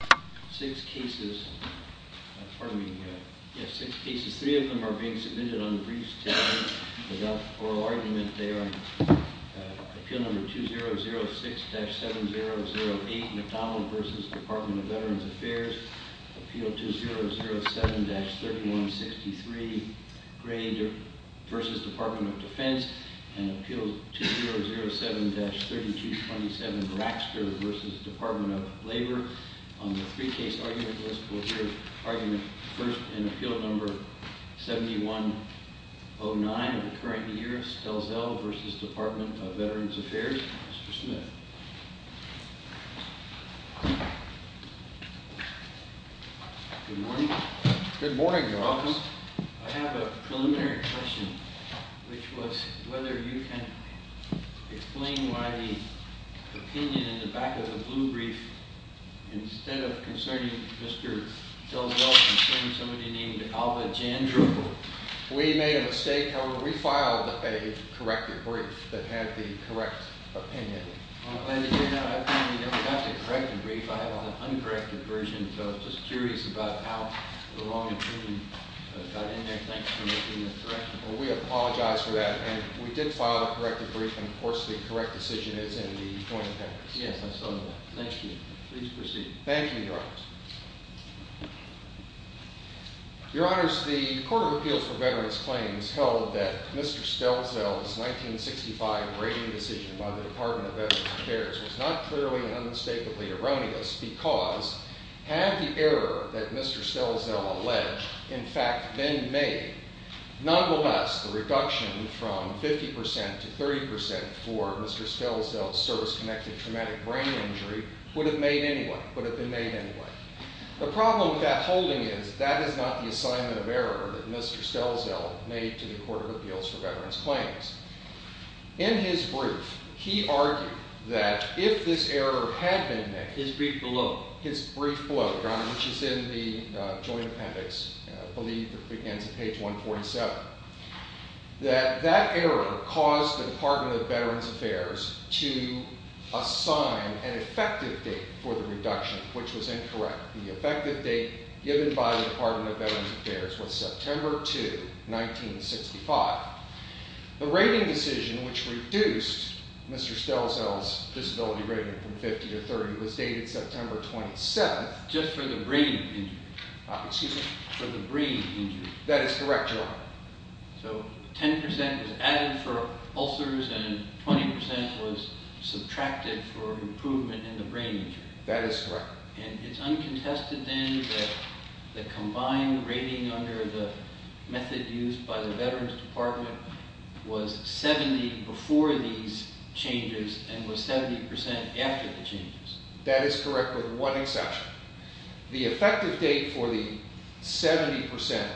6 cases, pardon me, yes 6 cases, 3 of them are being submitted on the briefs today without oral argument there. Appeal number 2006-7008, McDonald v. Department of Veterans Affairs. Appeal 2007-3163, Gray v. Department of Defense. And Appeal 2007-3227, Braxter v. Department of Labor. On the 3 case argument list, we'll hear argument first in Appeal number 7109 of the current year, Stelzel v. Department of Veterans Affairs. Mr. Smith. Good morning. Good morning, Your Honor. I have a preliminary question, which was whether you can explain why the opinion in the back of the blue brief, instead of concerning Mr. Stelzel, concerning somebody named Alva Jandro. We made a mistake, Your Honor. We filed a corrected brief that had the correct opinion. I'm glad to hear that. I apparently never got the corrected brief. I have an uncorrected version, so I'm just curious about how the wrong opinion got in there. Thanks for making that correction. Well, we apologize for that. And we did file the corrected brief, and of course, the correct decision is in the joint papers. Yes, I saw that. Thank you. Please proceed. Thank you, Your Honors. Your Honors, the Court of Appeals for Veterans Claims held that Mr. Stelzel's 1965 rating decision by the Department of Veterans Affairs was not clearly and unmistakably erroneous because had the error that Mr. Stelzel alleged in fact been made, nonetheless, the reduction from 50% to 30% for Mr. Stelzel's service-connected traumatic brain injury would have been made anyway. The problem with that holding is that is not the assignment of error that Mr. Stelzel made to the Court of Appeals for Veterans Claims. In his brief, he argued that if this error had been made— His brief below. His brief below, Your Honor, which is in the joint appendix. I believe it begins at page 147. That that error caused the Department of Veterans Affairs to assign an effective date for the reduction, which was incorrect. The effective date given by the Department of Veterans Affairs was September 2, 1965. The rating decision which reduced Mr. Stelzel's disability rating from 50 to 30 was dated September 27th. Just for the brain injury. Excuse me? For the brain injury. That is correct, Your Honor. So 10% was added for ulcers and 20% was subtracted for improvement in the brain injury. That is correct. And it's uncontested then that the combined rating under the method used by the Veterans Department was 70 before these changes and was 70% after the changes. That is correct with one exception. The effective date for the 70%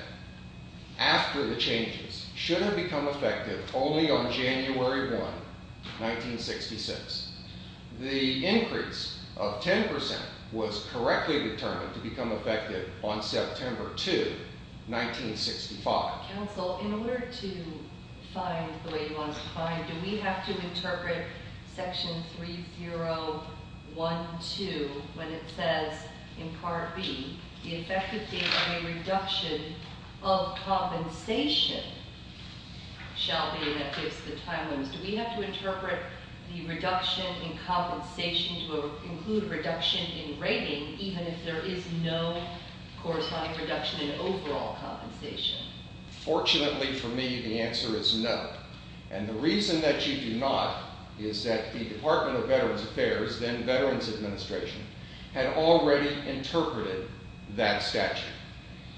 after the changes should have become effective only on January 1, 1966. The increase of 10% was correctly determined to become effective on September 2, 1965. Counsel, in order to find the way he wants to find, do we have to interpret Section 3012 when it says in Part B, the effective date for a reduction of compensation shall be, and that gives the time limits. Do we have to interpret the reduction in compensation to include reduction in rating even if there is no corresponding reduction in overall compensation? Fortunately for me, the answer is no. And the reason that you do not is that the Department of Veterans Affairs, then Veterans Administration, had already interpreted that statute.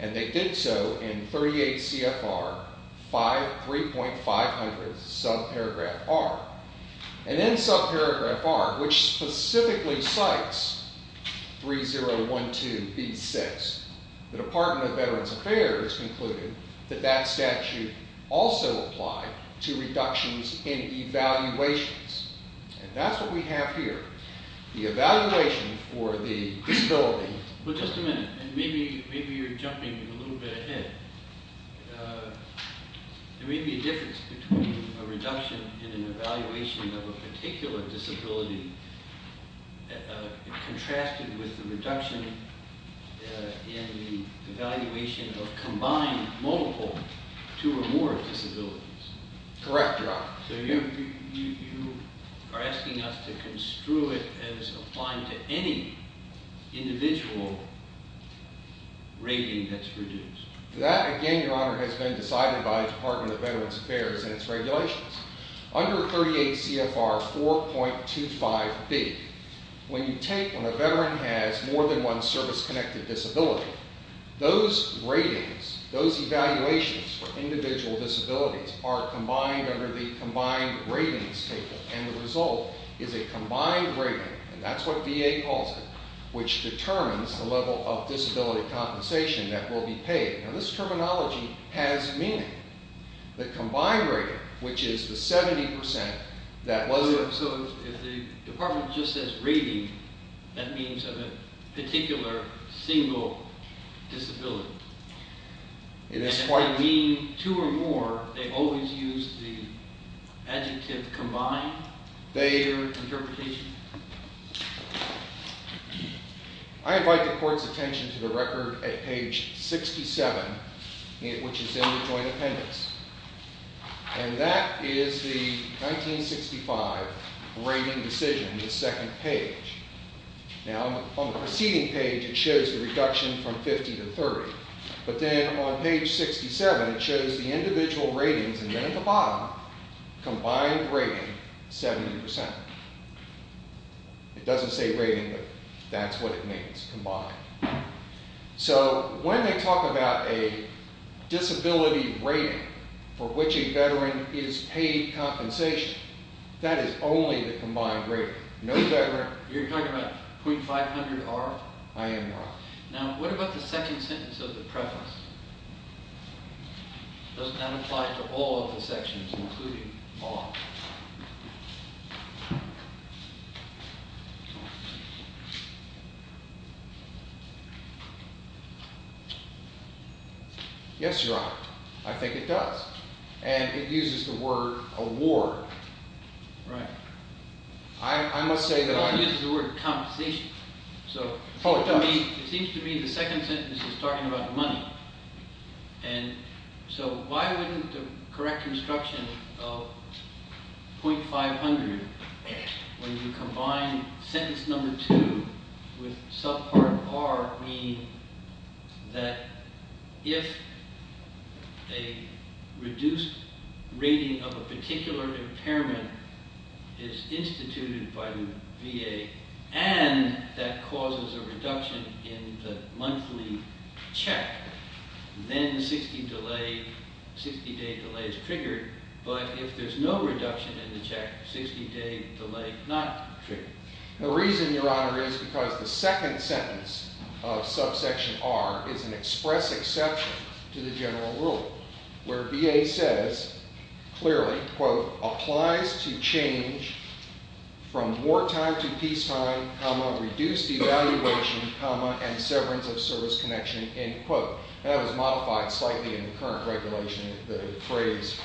And they did so in 38 CFR 3.500, subparagraph R. And then subparagraph R, which specifically cites 3012B6, the Department of Veterans Affairs concluded that that statute also applied to reductions in evaluations. And that's what we have here. The evaluation for the disability. Well, just a minute. And maybe you're jumping a little bit ahead. There may be a difference between a reduction in an evaluation of a particular disability contrasted with the reduction in the evaluation of combined multiple two or more disabilities. Correct, Your Honor. So you are asking us to construe it as applying to any individual rating that's reduced. That, again, Your Honor, has been decided by the Department of Veterans Affairs and its regulations. Under 38 CFR 4.25B, when you take when a veteran has more than one service-connected disability, those ratings, those evaluations for individual disabilities are combined under the combined ratings table. And the result is a combined rating. And that's what VA calls it, which determines the level of disability compensation that will be paid. Now, this terminology has meaning. The combined rating, which is the 70% that was there. So if the department just says rating, that means of a particular single disability. It is quite. And if they mean two or more, they always use the adjective combined? They. Or interpretation? I invite the court's attention to the record at page 67, which is in the joint appendix. And that is the 1965 rating decision, the second page. Now, on the preceding page, it shows the reduction from 50 to 30. But then on page 67, it shows the individual ratings. And then at the bottom, combined rating, 70%. It doesn't say rating, but that's what it means, combined. So when they talk about a disability rating for which a veteran is paid compensation, that is only the combined rating. No veteran. You're talking about .500R? I am, Your Honor. Now, what about the second sentence of the preface? Does that apply to all of the sections, including law? Yes, Your Honor. I think it does. And it uses the word award. Right. I must say that I... It also uses the word compensation. So it seems to me the second sentence is talking about money. And so why wouldn't the correct instruction of .500 when you combine sentence number two with subpart R mean that if a reduced rating of a particular impairment is instituted by the VA and that causes a reduction in the monthly check, then 60-day delay is triggered. But if there's no reduction in the check, 60-day delay not triggered. The reason, Your Honor, is because the second sentence of subsection R is an express exception to the general rule, where VA says clearly, quote, applies to change from wartime to peacetime, comma, reduced evaluation, comma, and severance of service connection, end quote. That was modified slightly in the current regulation, the phrase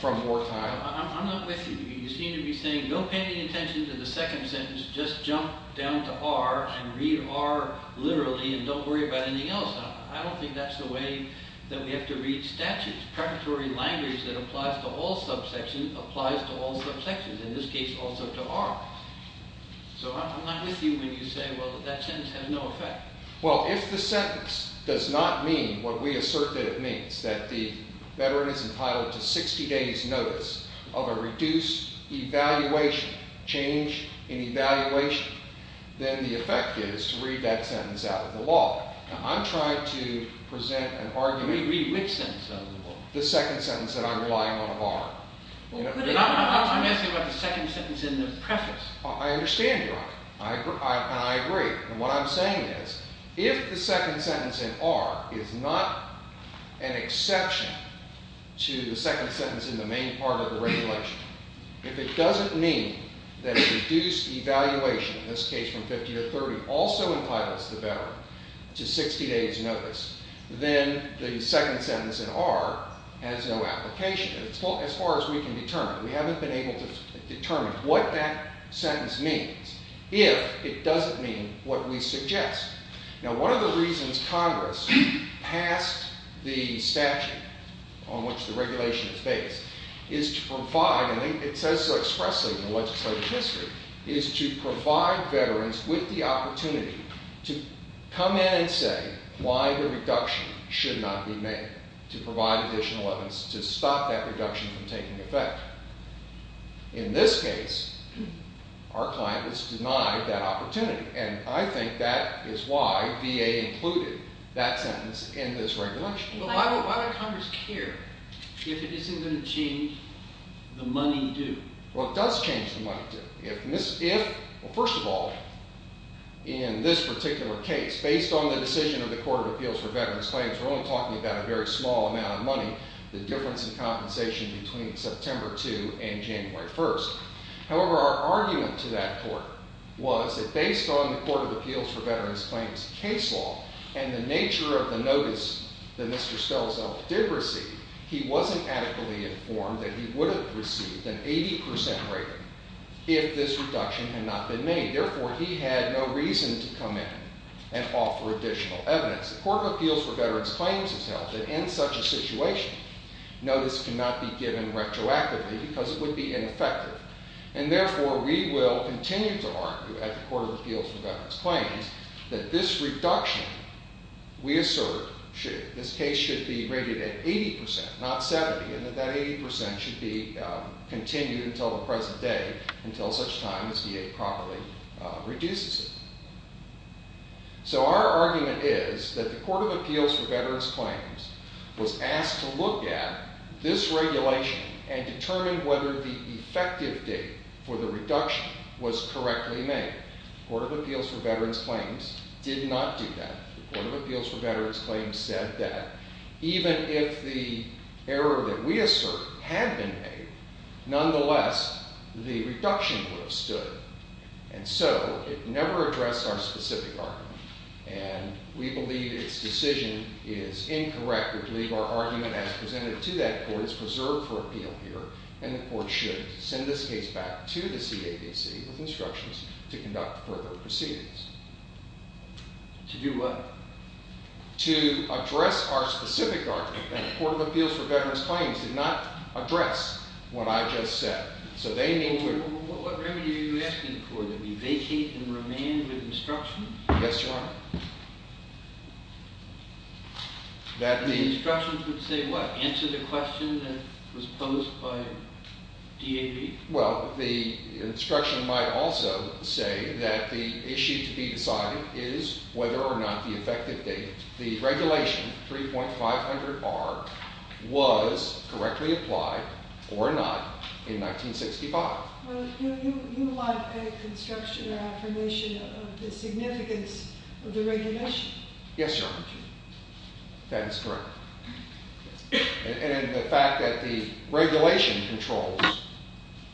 from wartime. I'm not with you. You seem to be saying don't pay any attention to the second sentence. Just jump down to R and read R literally and don't worry about anything else. I don't think that's the way that we have to read statutes. Preparatory language that applies to all subsections applies to all subsections, in this case also to R. So I'm not with you when you say, well, that sentence has no effect. Well, if the sentence does not mean what we assert that it means, that the veteran is entitled to 60 days notice of a reduced evaluation, change in evaluation, then the effect is to read that sentence out of the law. I'm trying to present an argument. Read which sentence out of the law? The second sentence that I'm relying on of R. I'm asking about the second sentence in the preface. I understand, Your Honor, and I agree. And what I'm saying is if the second sentence in R is not an exception to the second sentence in the main part of the regulation, if it doesn't mean that a reduced evaluation, in this case from 50 to 30, also entitles the veteran to 60 days notice, then the second sentence in R has no application as far as we can determine. We haven't been able to determine what that sentence means if it doesn't mean what we suggest. Now, one of the reasons Congress passed the statute on which the regulation is based is to provide, and it says so expressly in the legislative history, is to provide veterans with the opportunity to come in and say why the reduction should not be made, to provide additional evidence to stop that reduction from taking effect. In this case, our client has denied that opportunity. And I think that is why VA included that sentence in this regulation. But why would Congress care if it isn't going to change the money due? Well, it does change the money due. Well, first of all, in this particular case, based on the decision of the Court of Appeals for Veterans Claims, we're only talking about a very small amount of money, the difference in compensation between September 2 and January 1. However, our argument to that court was that based on the Court of Appeals for Veterans Claims case law and the nature of the notice that Mr. Stelzel did receive, he wasn't adequately informed that he would have received an 80% rating if this reduction had not been made. Therefore, he had no reason to come in and offer additional evidence. The Court of Appeals for Veterans Claims has held that in such a situation, notice cannot be given retroactively because it would be ineffective. And therefore, we will continue to argue at the Court of Appeals for Veterans Claims that this reduction, we assert, this case should be rated at 80%, not 70, and that that 80% should be continued until the present day, until such time as VA properly reduces it. So our argument is that the Court of Appeals for Veterans Claims was asked to look at this regulation and determine whether the effective date for the reduction was correctly made. The Court of Appeals for Veterans Claims did not do that. The Court of Appeals for Veterans Claims said that even if the error that we assert had been made, nonetheless, the reduction would have stood. And so it never addressed our specific argument. And we believe its decision is incorrect. We believe our argument as presented to that court is preserved for appeal here, and the court should send this case back to the CAVC with instructions to conduct further proceedings. To do what? To address our specific argument that the Court of Appeals for Veterans Claims did not address what I just said. So they need to— What remedy are you asking for? That we vacate and remain with instructions? Yes, Your Honor. That the— The instructions would say what? Answer the question that was posed by DAB? Well, the instruction might also say that the issue to be decided is whether or not the effective date. The regulation, 3.500R, was correctly applied, or not, in 1965. Well, do you want a construction or affirmation of the significance of the regulation? Yes, Your Honor. That is correct. And the fact that the regulation controls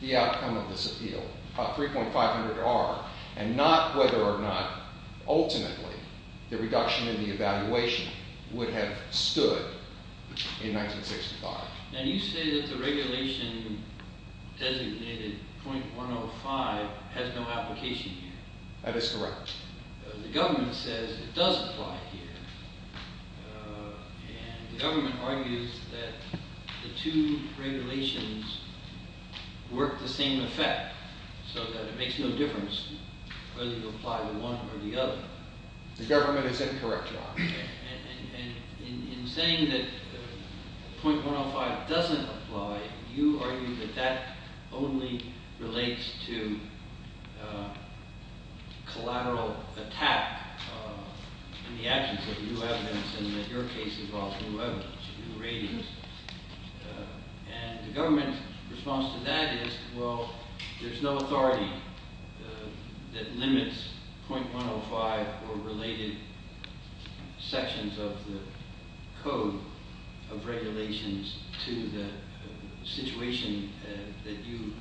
the outcome of this appeal, 3.500R, and not whether or not, ultimately, the reduction in the evaluation would have stood in 1965. Now, you say that the regulation designated .105 has no application here. That is correct. The government says it does apply here, and the government argues that the two regulations work the same effect, so that it makes no difference whether you apply the one or the other. The government is incorrect, Your Honor. And in saying that .105 doesn't apply, you argue that that only relates to collateral attack in the absence of new evidence, and that your case involves new evidence, new ratings. And the government's response to that is, well, there's no authority that limits .105 or related sections of the Code of Regulations to the situation that you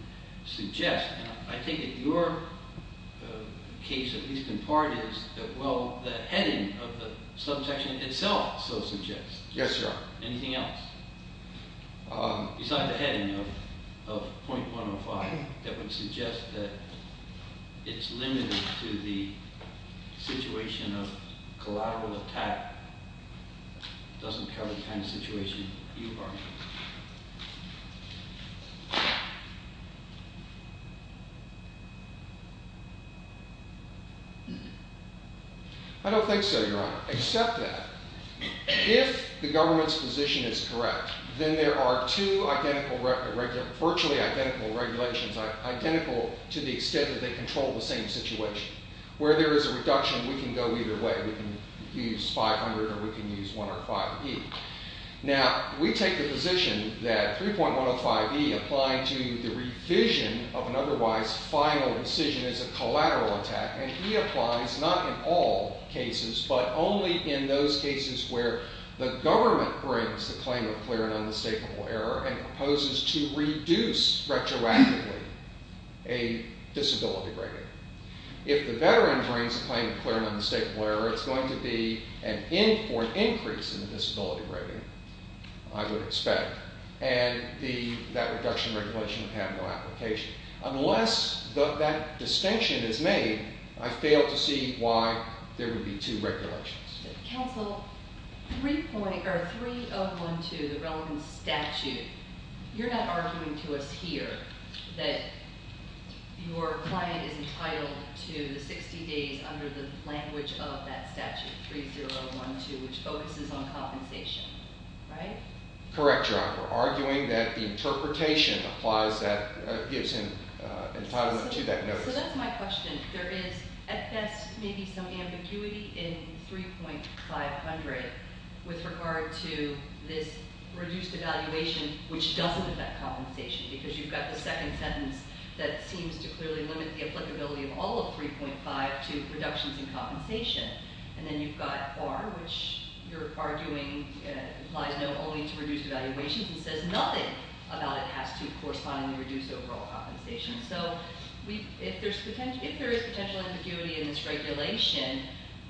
suggest. I think that your case, at least in part, is that, well, the heading of the subsection itself so suggests. Yes, Your Honor. Anything else besides the heading of .105 that would suggest that it's limited to the situation of collateral attack doesn't cover the kind of situation you argue? I don't think so, Your Honor, except that. If the government's position is correct, then there are two virtually identical regulations, identical to the extent that they control the same situation. Where there is a reduction, we can go either way. We can use 500 or we can use 105E. Now, we take the position that 3.105E applying to the revision of an otherwise final decision is a collateral attack. And E applies not in all cases, but only in those cases where the government brings the claim of clear and unmistakable error and proposes to reduce retroactively a disability rating. If the veteran brings the claim of clear and unmistakable error, it's going to be an increase in the disability rating, I would expect. And that reduction regulation would have no application. Unless that distinction is made, I fail to see why there would be two regulations. Counsel, 3012, the relevant statute, you're not arguing to us here that your client is entitled to the 60 days under the language of that statute, 3012, which focuses on compensation, right? Correct, Your Honor. We're arguing that the interpretation applies that – gives him entitlement to that notice. So that's my question. There is, at best, maybe some ambiguity in 3.500 with regard to this reduced evaluation, which doesn't affect compensation because you've got the second sentence that seems to clearly limit the applicability of all of 3.5 to reductions in compensation. And then you've got R, which you're arguing applies no only to reduced evaluations and says nothing about it has to correspondingly reduce overall compensation. So if there is potential ambiguity in this regulation,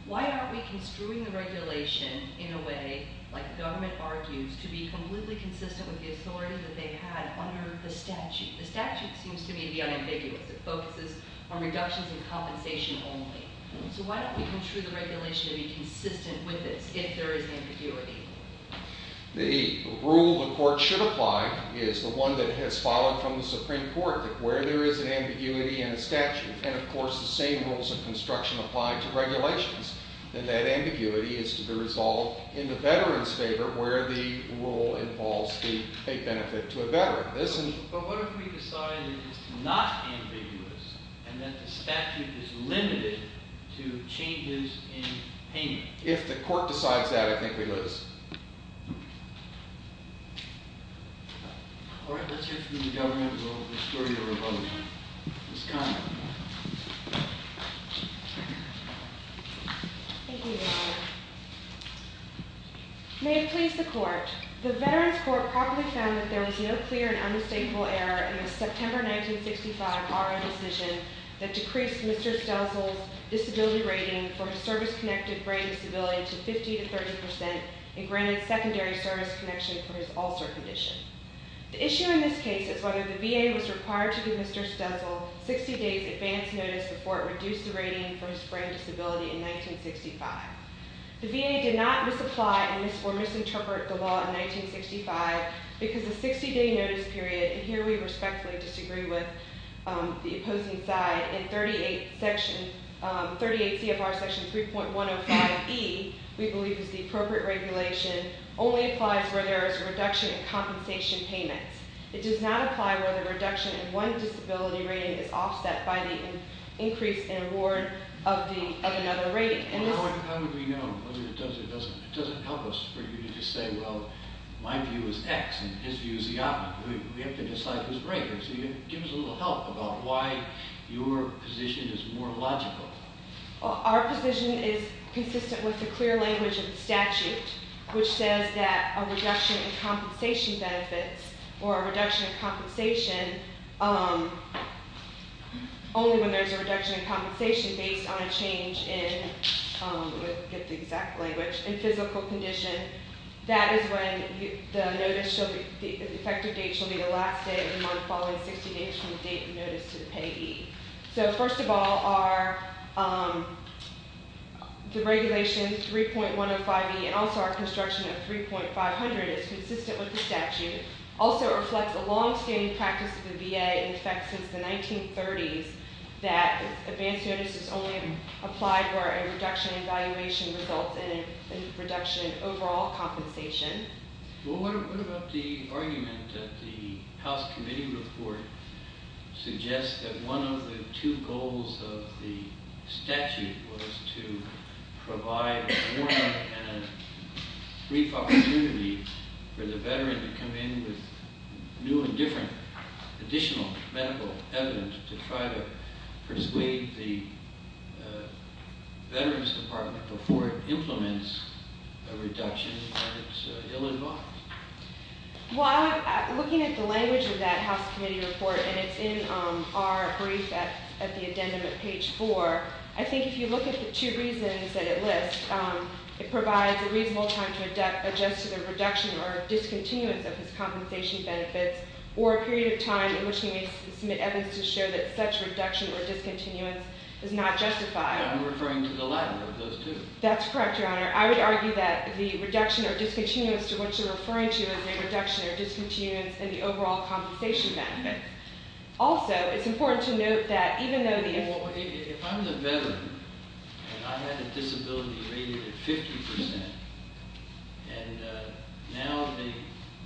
why aren't we construing the regulation in a way, like the government argues, to be completely consistent with the authority that they had under the statute? The statute seems to me to be unambiguous. It focuses on reductions in compensation only. So why don't we construe the regulation to be consistent with this if there is ambiguity? The rule the court should apply is the one that has followed from the Supreme Court, that where there is an ambiguity in a statute, and of course the same rules of construction apply to regulations, then that ambiguity is to be resolved in the veteran's favor where the rule involves the paid benefit to a veteran. But what if we decide that it's not ambiguous and that the statute is limited to changes in payment? If the court decides that, I think we lose. All right. Let's hear from the government. We'll restore your revolution. Ms. Conner. May it please the court. The Veterans Court properly found that there was no clear and unmistakable error in the September 1965 R.O. decision that decreased Mr. Stelzel's disability rating for his service-connected brain disability to 50% to 30% and granted secondary service connection for his ulcer condition. The issue in this case is whether the VA was required to give Mr. Stelzel 60 days' advance notice before it reduced the rating for his brain disability in 1965. The VA did not misapply or misinterpret the law in 1965 because the 60-day notice period, and here we respectfully disagree with the opposing side, in 38 CFR section 3.105E, we believe is the appropriate regulation, only applies where there is a reduction in compensation payments. It does not apply where the reduction in one disability rating is offset by the increase in award of another rating. How would we know? It doesn't help us for you to just say, well, my view is X and his view is the opposite. We have to decide who's right. Give us a little help about why your position is more logical. Our position is consistent with the clear language of the statute, which says that a reduction in compensation benefits, or a reduction in compensation, only when there's a reduction in compensation based on a change in physical condition. That is when the effective date shall be the last day of the month following 60 days from the date of notice to the payee. So first of all, our – the regulation 3.105E and also our construction of 3.500 is consistent with the statute. Also, it reflects a longstanding practice of the VA in effect since the 1930s that advance notice is only applied where a reduction in valuation results in a reduction in overall compensation. Well, what about the argument that the House Committee Report suggests that one of the two goals of the statute was to provide a warm-up and a brief opportunity for the veteran to come in with new and different additional medical evidence to try to persuade the Veterans Department before it implements a reduction? Well, looking at the language of that House Committee Report, and it's in our brief at the addendum at page 4, I think if you look at the two reasons that it lists, it provides a reasonable time to adjust to the reduction or discontinuance of his compensation benefits or a period of time in which he may submit evidence to show that such reduction or discontinuance is not justified. I'm referring to the latter of those two. That's correct, Your Honor. I would argue that the reduction or discontinuance to what you're referring to is a reduction or discontinuance in the overall compensation benefits. Also, it's important to note that even though the – Well, if I'm the veteran and I had a disability rated at 50 percent and now the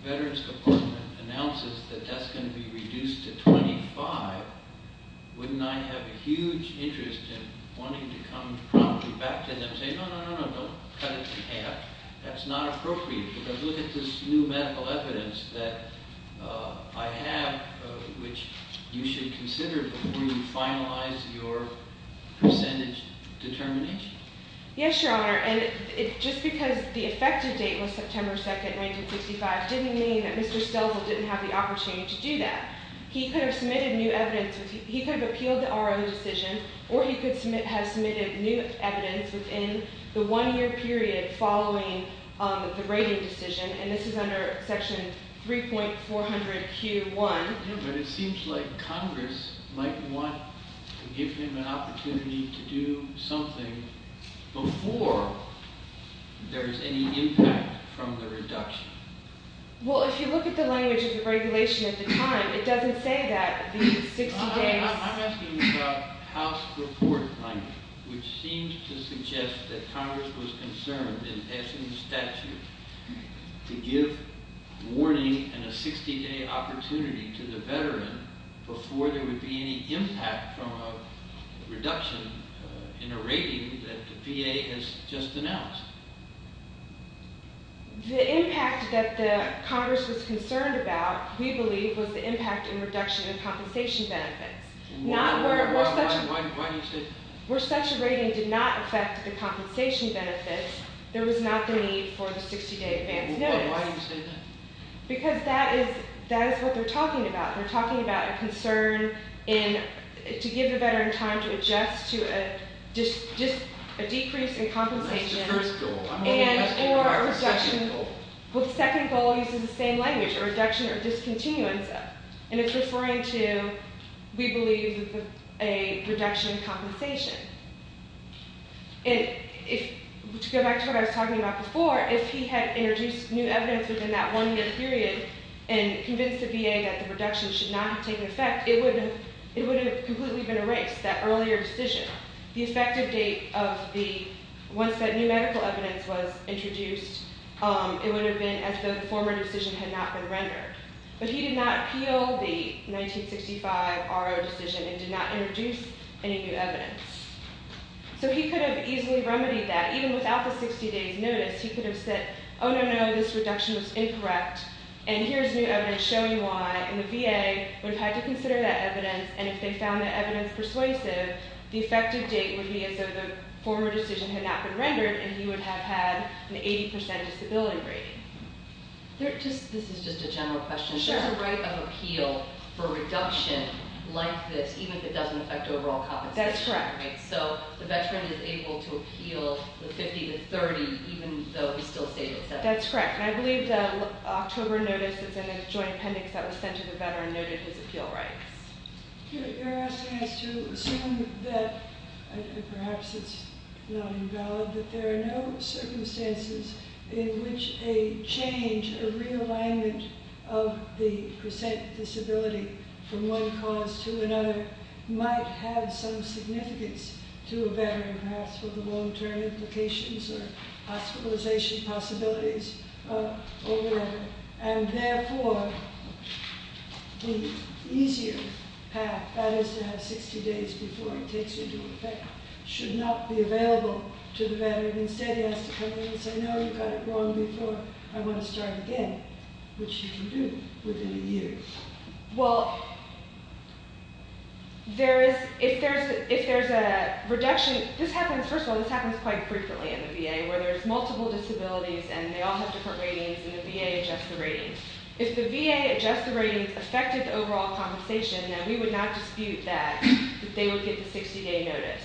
Veterans Department announces that that's going to be reduced to 25, wouldn't I have a huge interest in wanting to come promptly back to them and say, no, no, no, don't cut it in half. That's not appropriate because look at this new medical evidence that I have, which you should consider before you finalize your percentage determination. Yes, Your Honor. And just because the effective date was September 2, 1965, didn't mean that Mr. Stelzel didn't have the opportunity to do that. He could have submitted new evidence – he could have appealed the RO decision or he could have submitted new evidence within the one-year period following the rating decision, and this is under Section 3.400Q1. But it seems like Congress might want to give him an opportunity to do something before there is any impact from the reduction. Well, if you look at the language of the regulation at the time, it doesn't say that the 60 days – I'm asking about House Report language, which seems to suggest that Congress was concerned, as in the statute, to give warning and a 60-day opportunity to the veteran before there would be any impact from a reduction in a rating that the VA has just announced. The impact that Congress was concerned about, we believe, was the impact in reduction in compensation benefits. Why do you say that? Where such a rating did not affect the compensation benefits, there was not the need for the 60-day advance notice. Why do you say that? Because that is what they're talking about. They're talking about a concern to give the veteran time to adjust to a decrease in compensation. That's the first goal. I'm only asking about the second goal. Well, the second goal uses the same language, a reduction or discontinuance of. And it's referring to, we believe, a reduction in compensation. And to go back to what I was talking about before, if he had introduced new evidence within that one-year period and convinced the VA that the reduction should not have taken effect, it would have completely been erased, that earlier decision. The effective date of the, once that new medical evidence was introduced, it would have been as though the former decision had not been rendered. But he did not appeal the 1965 R.O. decision and did not introduce any new evidence. So he could have easily remedied that. Even without the 60-days notice, he could have said, oh, no, no, this reduction was incorrect, and here's new evidence showing why. And the VA would have had to consider that evidence. And if they found that evidence persuasive, the effective date would be as though the former decision had not been rendered, and he would have had an 80% disability rating. This is just a general question. Sure. There's a right of appeal for a reduction like this, even if it doesn't affect overall compensation. That's correct. So the veteran is able to appeal the 50 to 30, even though he still stays at 70. That's correct. And I believe the October notice is in a joint appendix that was sent to the veteran noted his appeal rights. You're asking us to assume that, and perhaps it's not invalid, that there are no circumstances in which a change or realignment of the percent disability from one cause to another might have some significance to a veteran, perhaps for the long-term implications or hospitalization possibilities or whatever. And therefore, the easier path, that is to have 60 days before it takes into effect, should not be available to the veteran. Instead, he has to come in and say, no, you got it wrong before. I want to start again, which you can do within a year. Well, if there's a reduction, this happens, first of all, this happens quite frequently in the VA, where there's multiple disabilities and they all have different ratings and the VA adjusts the ratings. If the VA adjusts the ratings, affected the overall compensation, then we would not dispute that they would get the 60-day notice.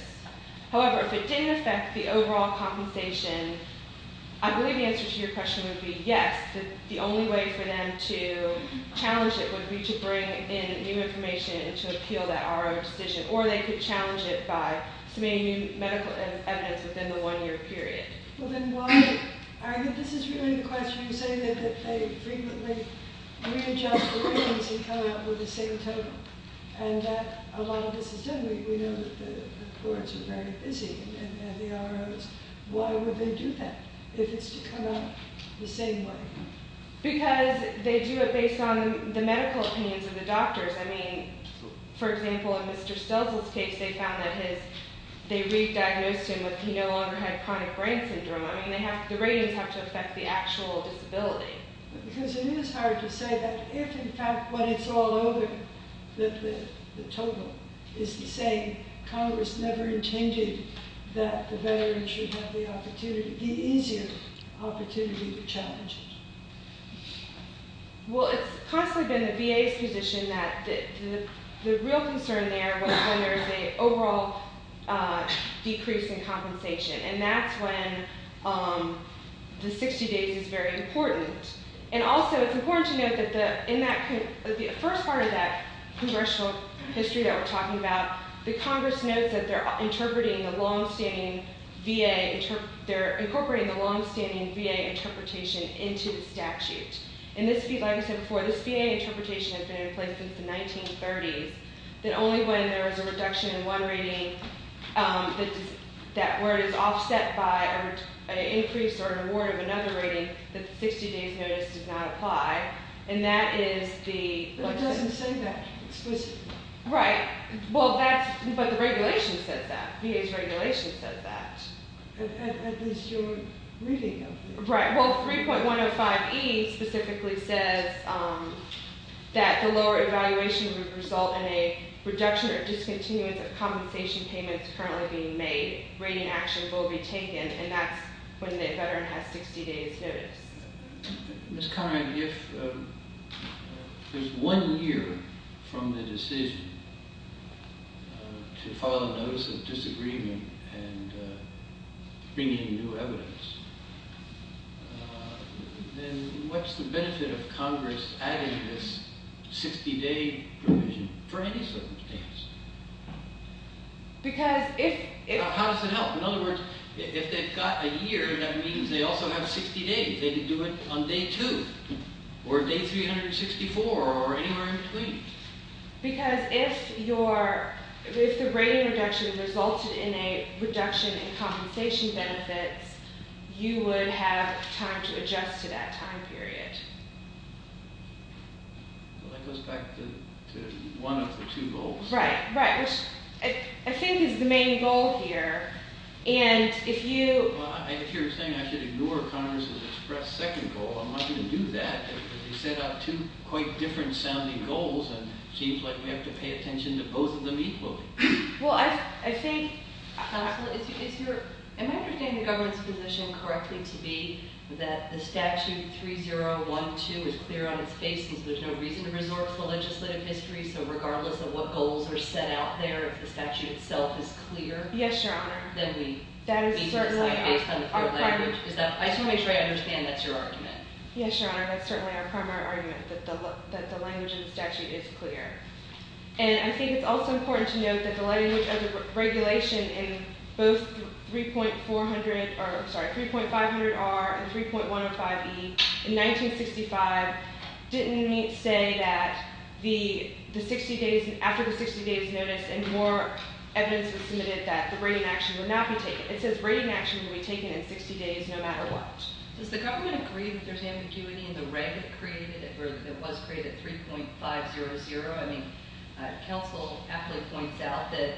However, if it didn't affect the overall compensation, I believe the answer to your question would be yes. The only way for them to challenge it would be to bring in new information and to appeal that RO decision, or they could challenge it by submitting new medical evidence within the one-year period. Well, then why – I think this is really the question. You say that they frequently readjust the ratings and come out with the same total, and that a lot of this is done. We know that the courts are very busy and the ROs. Why would they do that if it's to come out the same way? Because they do it based on the medical opinions of the doctors. I mean, for example, in Mr. Stelzl's case, they found that his – they re-diagnosed him with – he no longer had chronic brain syndrome. I mean, they have – the ratings have to affect the actual disability. Because it is hard to say that if, in fact, what it's all over, that the total is the same, Congress never intended that the veteran should have the opportunity – the easier opportunity to challenge it. Well, it's constantly been the VA's position that the real concern there was when there's an overall decrease in compensation, and that's when the 60 days is very important. And also, it's important to note that the – in that – the first part of that congressional history that we're talking about, the Congress notes that they're interpreting the longstanding VA – they're incorporating the longstanding VA interpretation into the statute. And this – like I said before, this VA interpretation has been in place since the 1930s, that only when there is a reduction in one rating, that – where it is offset by an increase or an award of another rating, that the 60 days notice does not apply. And that is the – But it doesn't say that explicitly. Right. Well, that's – but the regulation says that. VA's regulation says that. At least your reading of it. Right. Well, 3.105E specifically says that the lower evaluation would result in a reduction or discontinuance of compensation payments currently being made. Rating actions will be taken, and that's when the veteran has 60 days notice. Ms. Conrad, if there's one year from the decision to file a notice of disagreement and bring in new evidence, then what's the benefit of Congress adding this 60-day provision for any circumstance? Because if – They could do it on day two or day 364 or anywhere in between. Because if your – if the rating reduction resulted in a reduction in compensation benefits, you would have time to adjust to that time period. Well, that goes back to one of the two goals. Right, right, which I think is the main goal here. And if you – Well, if you're saying I should ignore Congress's express second goal, I'm not going to do that. They set out two quite different-sounding goals, and it seems like we have to pay attention to both of them equally. Well, I think, counsel, is your – am I understanding the government's position correctly to be that the statute 3.012 is clear on its faces? There's no reason to resort to legislative history, so regardless of what goals are set out there, if the statute itself is clear – Yes, Your Honor. – then we need to decide based on the field language. I just want to make sure I understand that's your argument. Yes, Your Honor, that's certainly our primary argument, that the language in the statute is clear. And I think it's also important to note that the language of the regulation in both 3.400 – sorry, 3.500R and 3.105E in 1965 didn't say that the 60 days – It says rating action will be taken in 60 days no matter what. Does the government agree that there's ambiguity in the reg that created it or that was created 3.500? I mean, counsel aptly points out that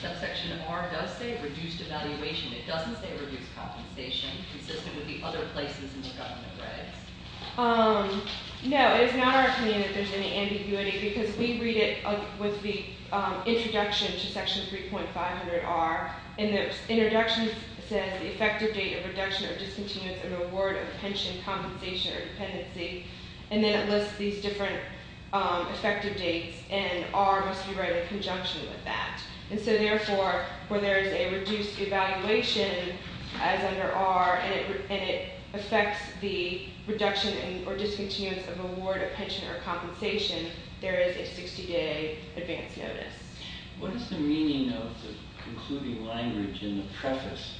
subsection R does say reduced evaluation. It doesn't say reduced compensation consistent with the other places in the government regs. No, it is not our opinion that there's any ambiguity because we read it with the introduction to section 3.500R. In the introduction, it says the effective date of reduction or discontinuance of the award of pension compensation or dependency. And then it lists these different effective dates, and R must be read in conjunction with that. And so, therefore, where there is a reduced evaluation as under R and it affects the reduction or discontinuance of award of pension or compensation, there is a 60-day advance notice. What is the meaning of the concluding language in the preface,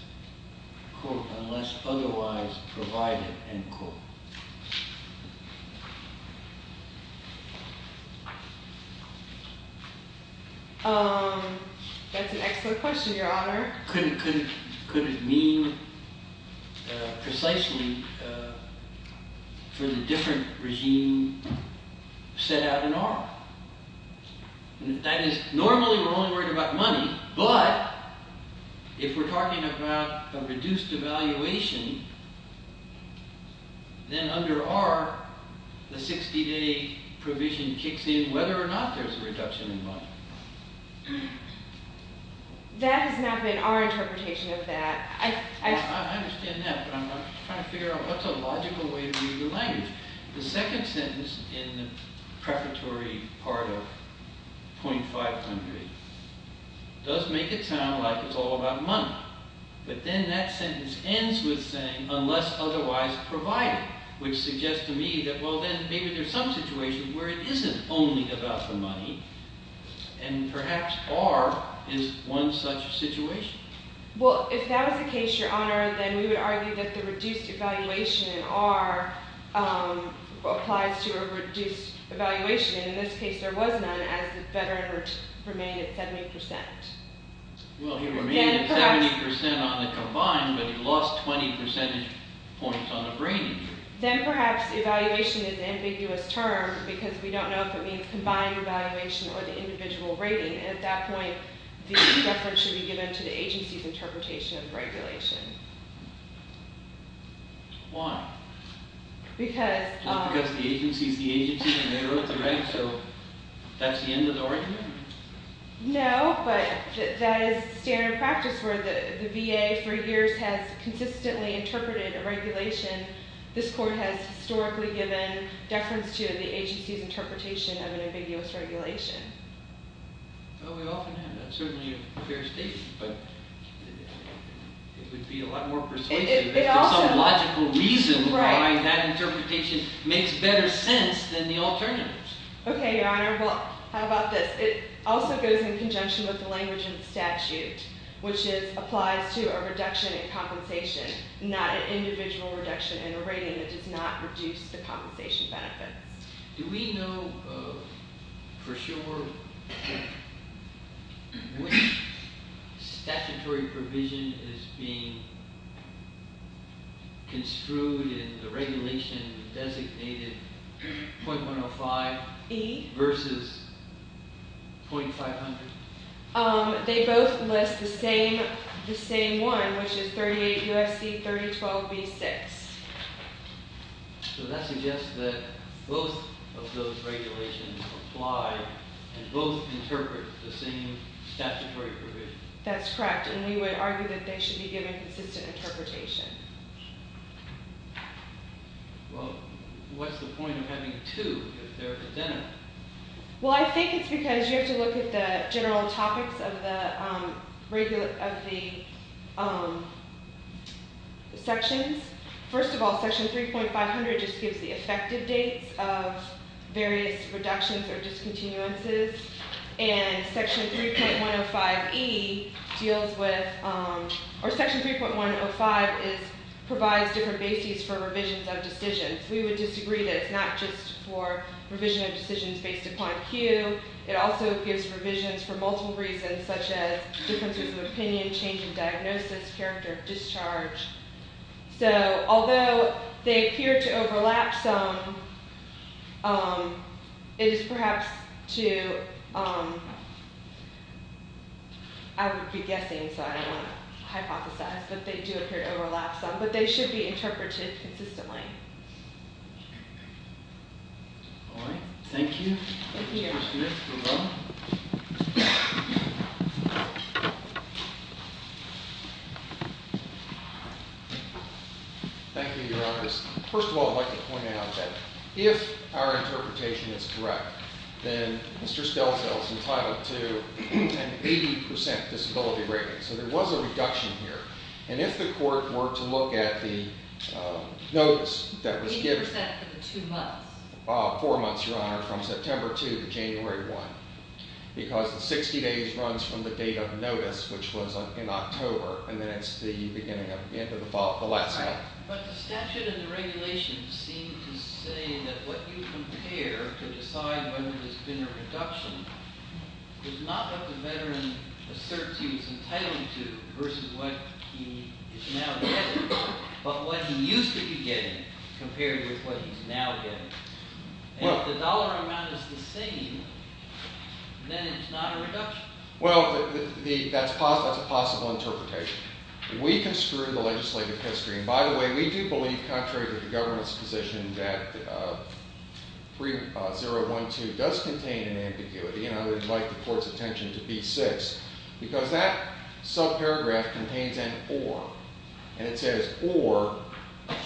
quote, unless otherwise provided, end quote? That's an excellent question, Your Honor. Could it mean precisely for the different regime set out in R? That is normally we're only worried about money, but if we're talking about a reduced evaluation, then under R, the 60-day provision kicks in whether or not there's a reduction in money. That has not been our interpretation of that. I understand that, but I'm trying to figure out what's a logical way to read the language. The second sentence in the prefatory part of .500 does make it sound like it's all about money. But then that sentence ends with saying, unless otherwise provided, which suggests to me that, well, then maybe there's some situation where it isn't only about the money, and perhaps R is one such situation. Well, if that was the case, Your Honor, then we would argue that the reduced evaluation in R applies to a reduced evaluation. In this case, there was none, as the veteran remained at 70%. Well, he remained at 70% on the combined, but he lost 20 percentage points on the brain injury. Then perhaps evaluation is an ambiguous term because we don't know if it means combined evaluation or the individual rating. At that point, the reference should be given to the agency's interpretation of regulation. Why? Because… Just because the agency is the agency and they wrote the reg, so that's the end of the argument? No, but that is standard practice where the VA for years has consistently interpreted a regulation. This Court has historically given deference to the agency's interpretation of an ambiguous regulation. Well, we often have that. It's certainly a fair statement, but it would be a lot more persuasive if there's some logical reason why that interpretation makes better sense than the alternatives. Okay, Your Honor. Well, how about this? It also goes in conjunction with the language of the statute, which applies to a reduction in compensation, not an individual reduction in a rating that does not reduce the compensation benefits. Do we know for sure which statutory provision is being construed in the regulation designated 0.105 versus 0.500? They both list the same one, which is 38 U.S.C. 3012b-6. So that suggests that both of those regulations apply and both interpret the same statutory provision. That's correct, and we would argue that they should be given consistent interpretation. Well, what's the point of having two if they're identical? Well, I think it's because you have to look at the general topics of the sections. First of all, Section 3.500 just gives the effective dates of various reductions or discontinuances, and Section 3.105 provides different bases for revisions of decisions. We would disagree that it's not just for revision of decisions based upon a few. It also gives revisions for multiple reasons, such as differences of opinion, change in diagnosis, character of discharge. So although they appear to overlap some, it is perhaps to—I would be guessing, so I don't want to hypothesize that they do appear to overlap some, but they should be interpreted consistently. All right. Thank you. Thank you. Thank you, Your Honors. First of all, I'd like to point out that if our interpretation is correct, then Mr. Stelzel is entitled to an 80% disability rating. So there was a reduction here. And if the court were to look at the notice that was given— 80% for the two months. Four months, Your Honor, from September 2 to January 1, because the 60 days runs from the date of notice, which was in October, and then it's the beginning of the end of the fall, the last month. But the statute and the regulations seem to say that what you compare to decide whether there's been a reduction is not what the veteran asserts he was entitled to versus what he is now getting, but what he used to be getting compared with what he's now getting. And if the dollar amount is the same, then it's not a reduction. Well, that's a possible interpretation. We can screw the legislative history. And by the way, we do believe, contrary to the government's position, that 3012 does contain an ambiguity, and I would invite the court's attention to B6, because that subparagraph contains an or. And it says or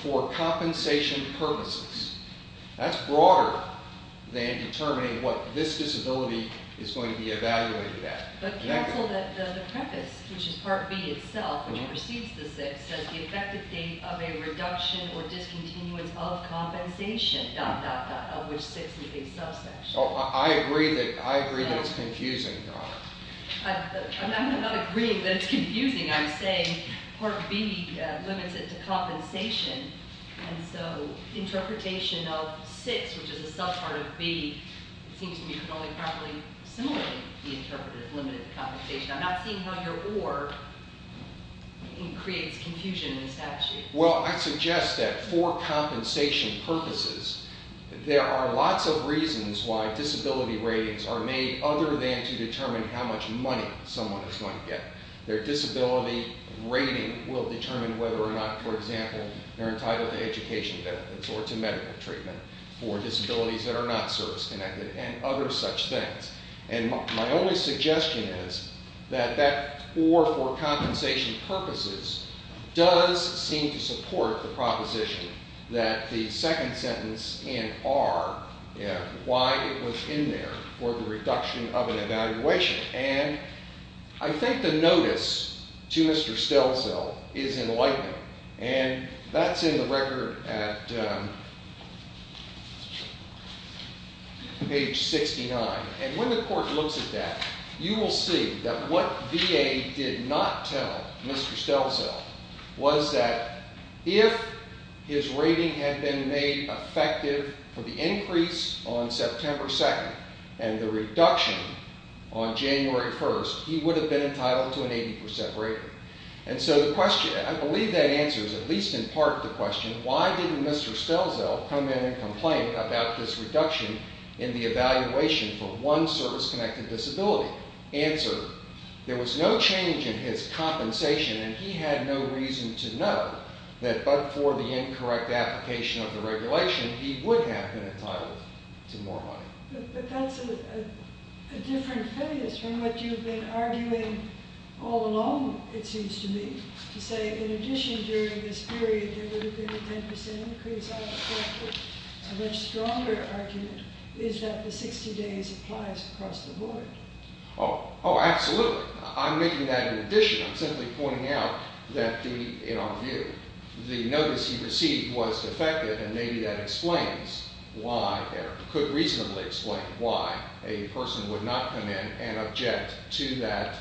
for compensation purposes. That's broader than determining what this disability is going to be evaluated at. But counsel that the preface, which is Part B itself, which precedes the 6th, says the effective date of a reduction or discontinuance of compensation, dot, dot, dot, of which 6 is a subsection. I agree that it's confusing, Your Honor. I'm not agreeing that it's confusing. And so the interpretation of 6, which is a subpart of B, it seems to me could only properly simulate the interpreter's limited compensation. I'm not seeing how your or creates confusion in the statute. Well, I suggest that for compensation purposes, there are lots of reasons why disability ratings are made other than to determine how much money someone is going to get. Their disability rating will determine whether or not, for example, they're entitled to education benefits or to medical treatment for disabilities that are not service-connected and other such things. And my only suggestion is that that or for compensation purposes does seem to support the proposition that the second sentence in R, why it was in there for the reduction of an evaluation. And I think the notice to Mr. Stelzel is enlightening. And that's in the record at page 69. And when the court looks at that, you will see that what VA did not tell Mr. Stelzel was that if his rating had been made effective for the increase on September 2nd and the reduction on January 1st, he would have been entitled to an 80% rating. And so the question, I believe that answers at least in part the question, why didn't Mr. Stelzel come in and complain about this reduction in the evaluation for one service-connected disability? Answer, there was no change in his compensation and he had no reason to know that but for the incorrect application of the regulation, he would have been entitled to more money. But that's a different phase from what you've been arguing all along, it seems to me, to say in addition during this period, there would have been a 10% increase on the record. A much stronger argument is that the 60 days applies across the board. Oh, absolutely. I'm making that in addition. I'm simply pointing out that the, in our view, the notice he received was defective and maybe that explains why, could reasonably explain why a person would not come in and object to that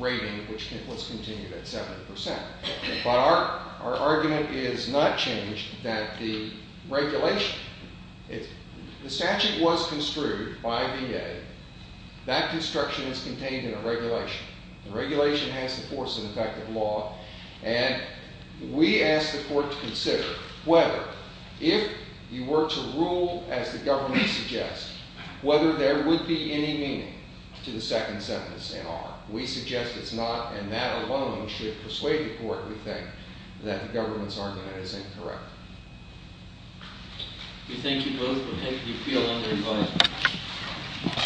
rating which was continued at 70%. But our argument is not changed that the regulation, the statute was construed by VA. That construction is contained in a regulation. And we ask the court to consider whether, if you were to rule as the government suggests, whether there would be any meaning to the second sentence in R. We suggest it's not and that alone should persuade the court, we think, that the government's argument is incorrect. We thank you both. We thank the appeal on their advice.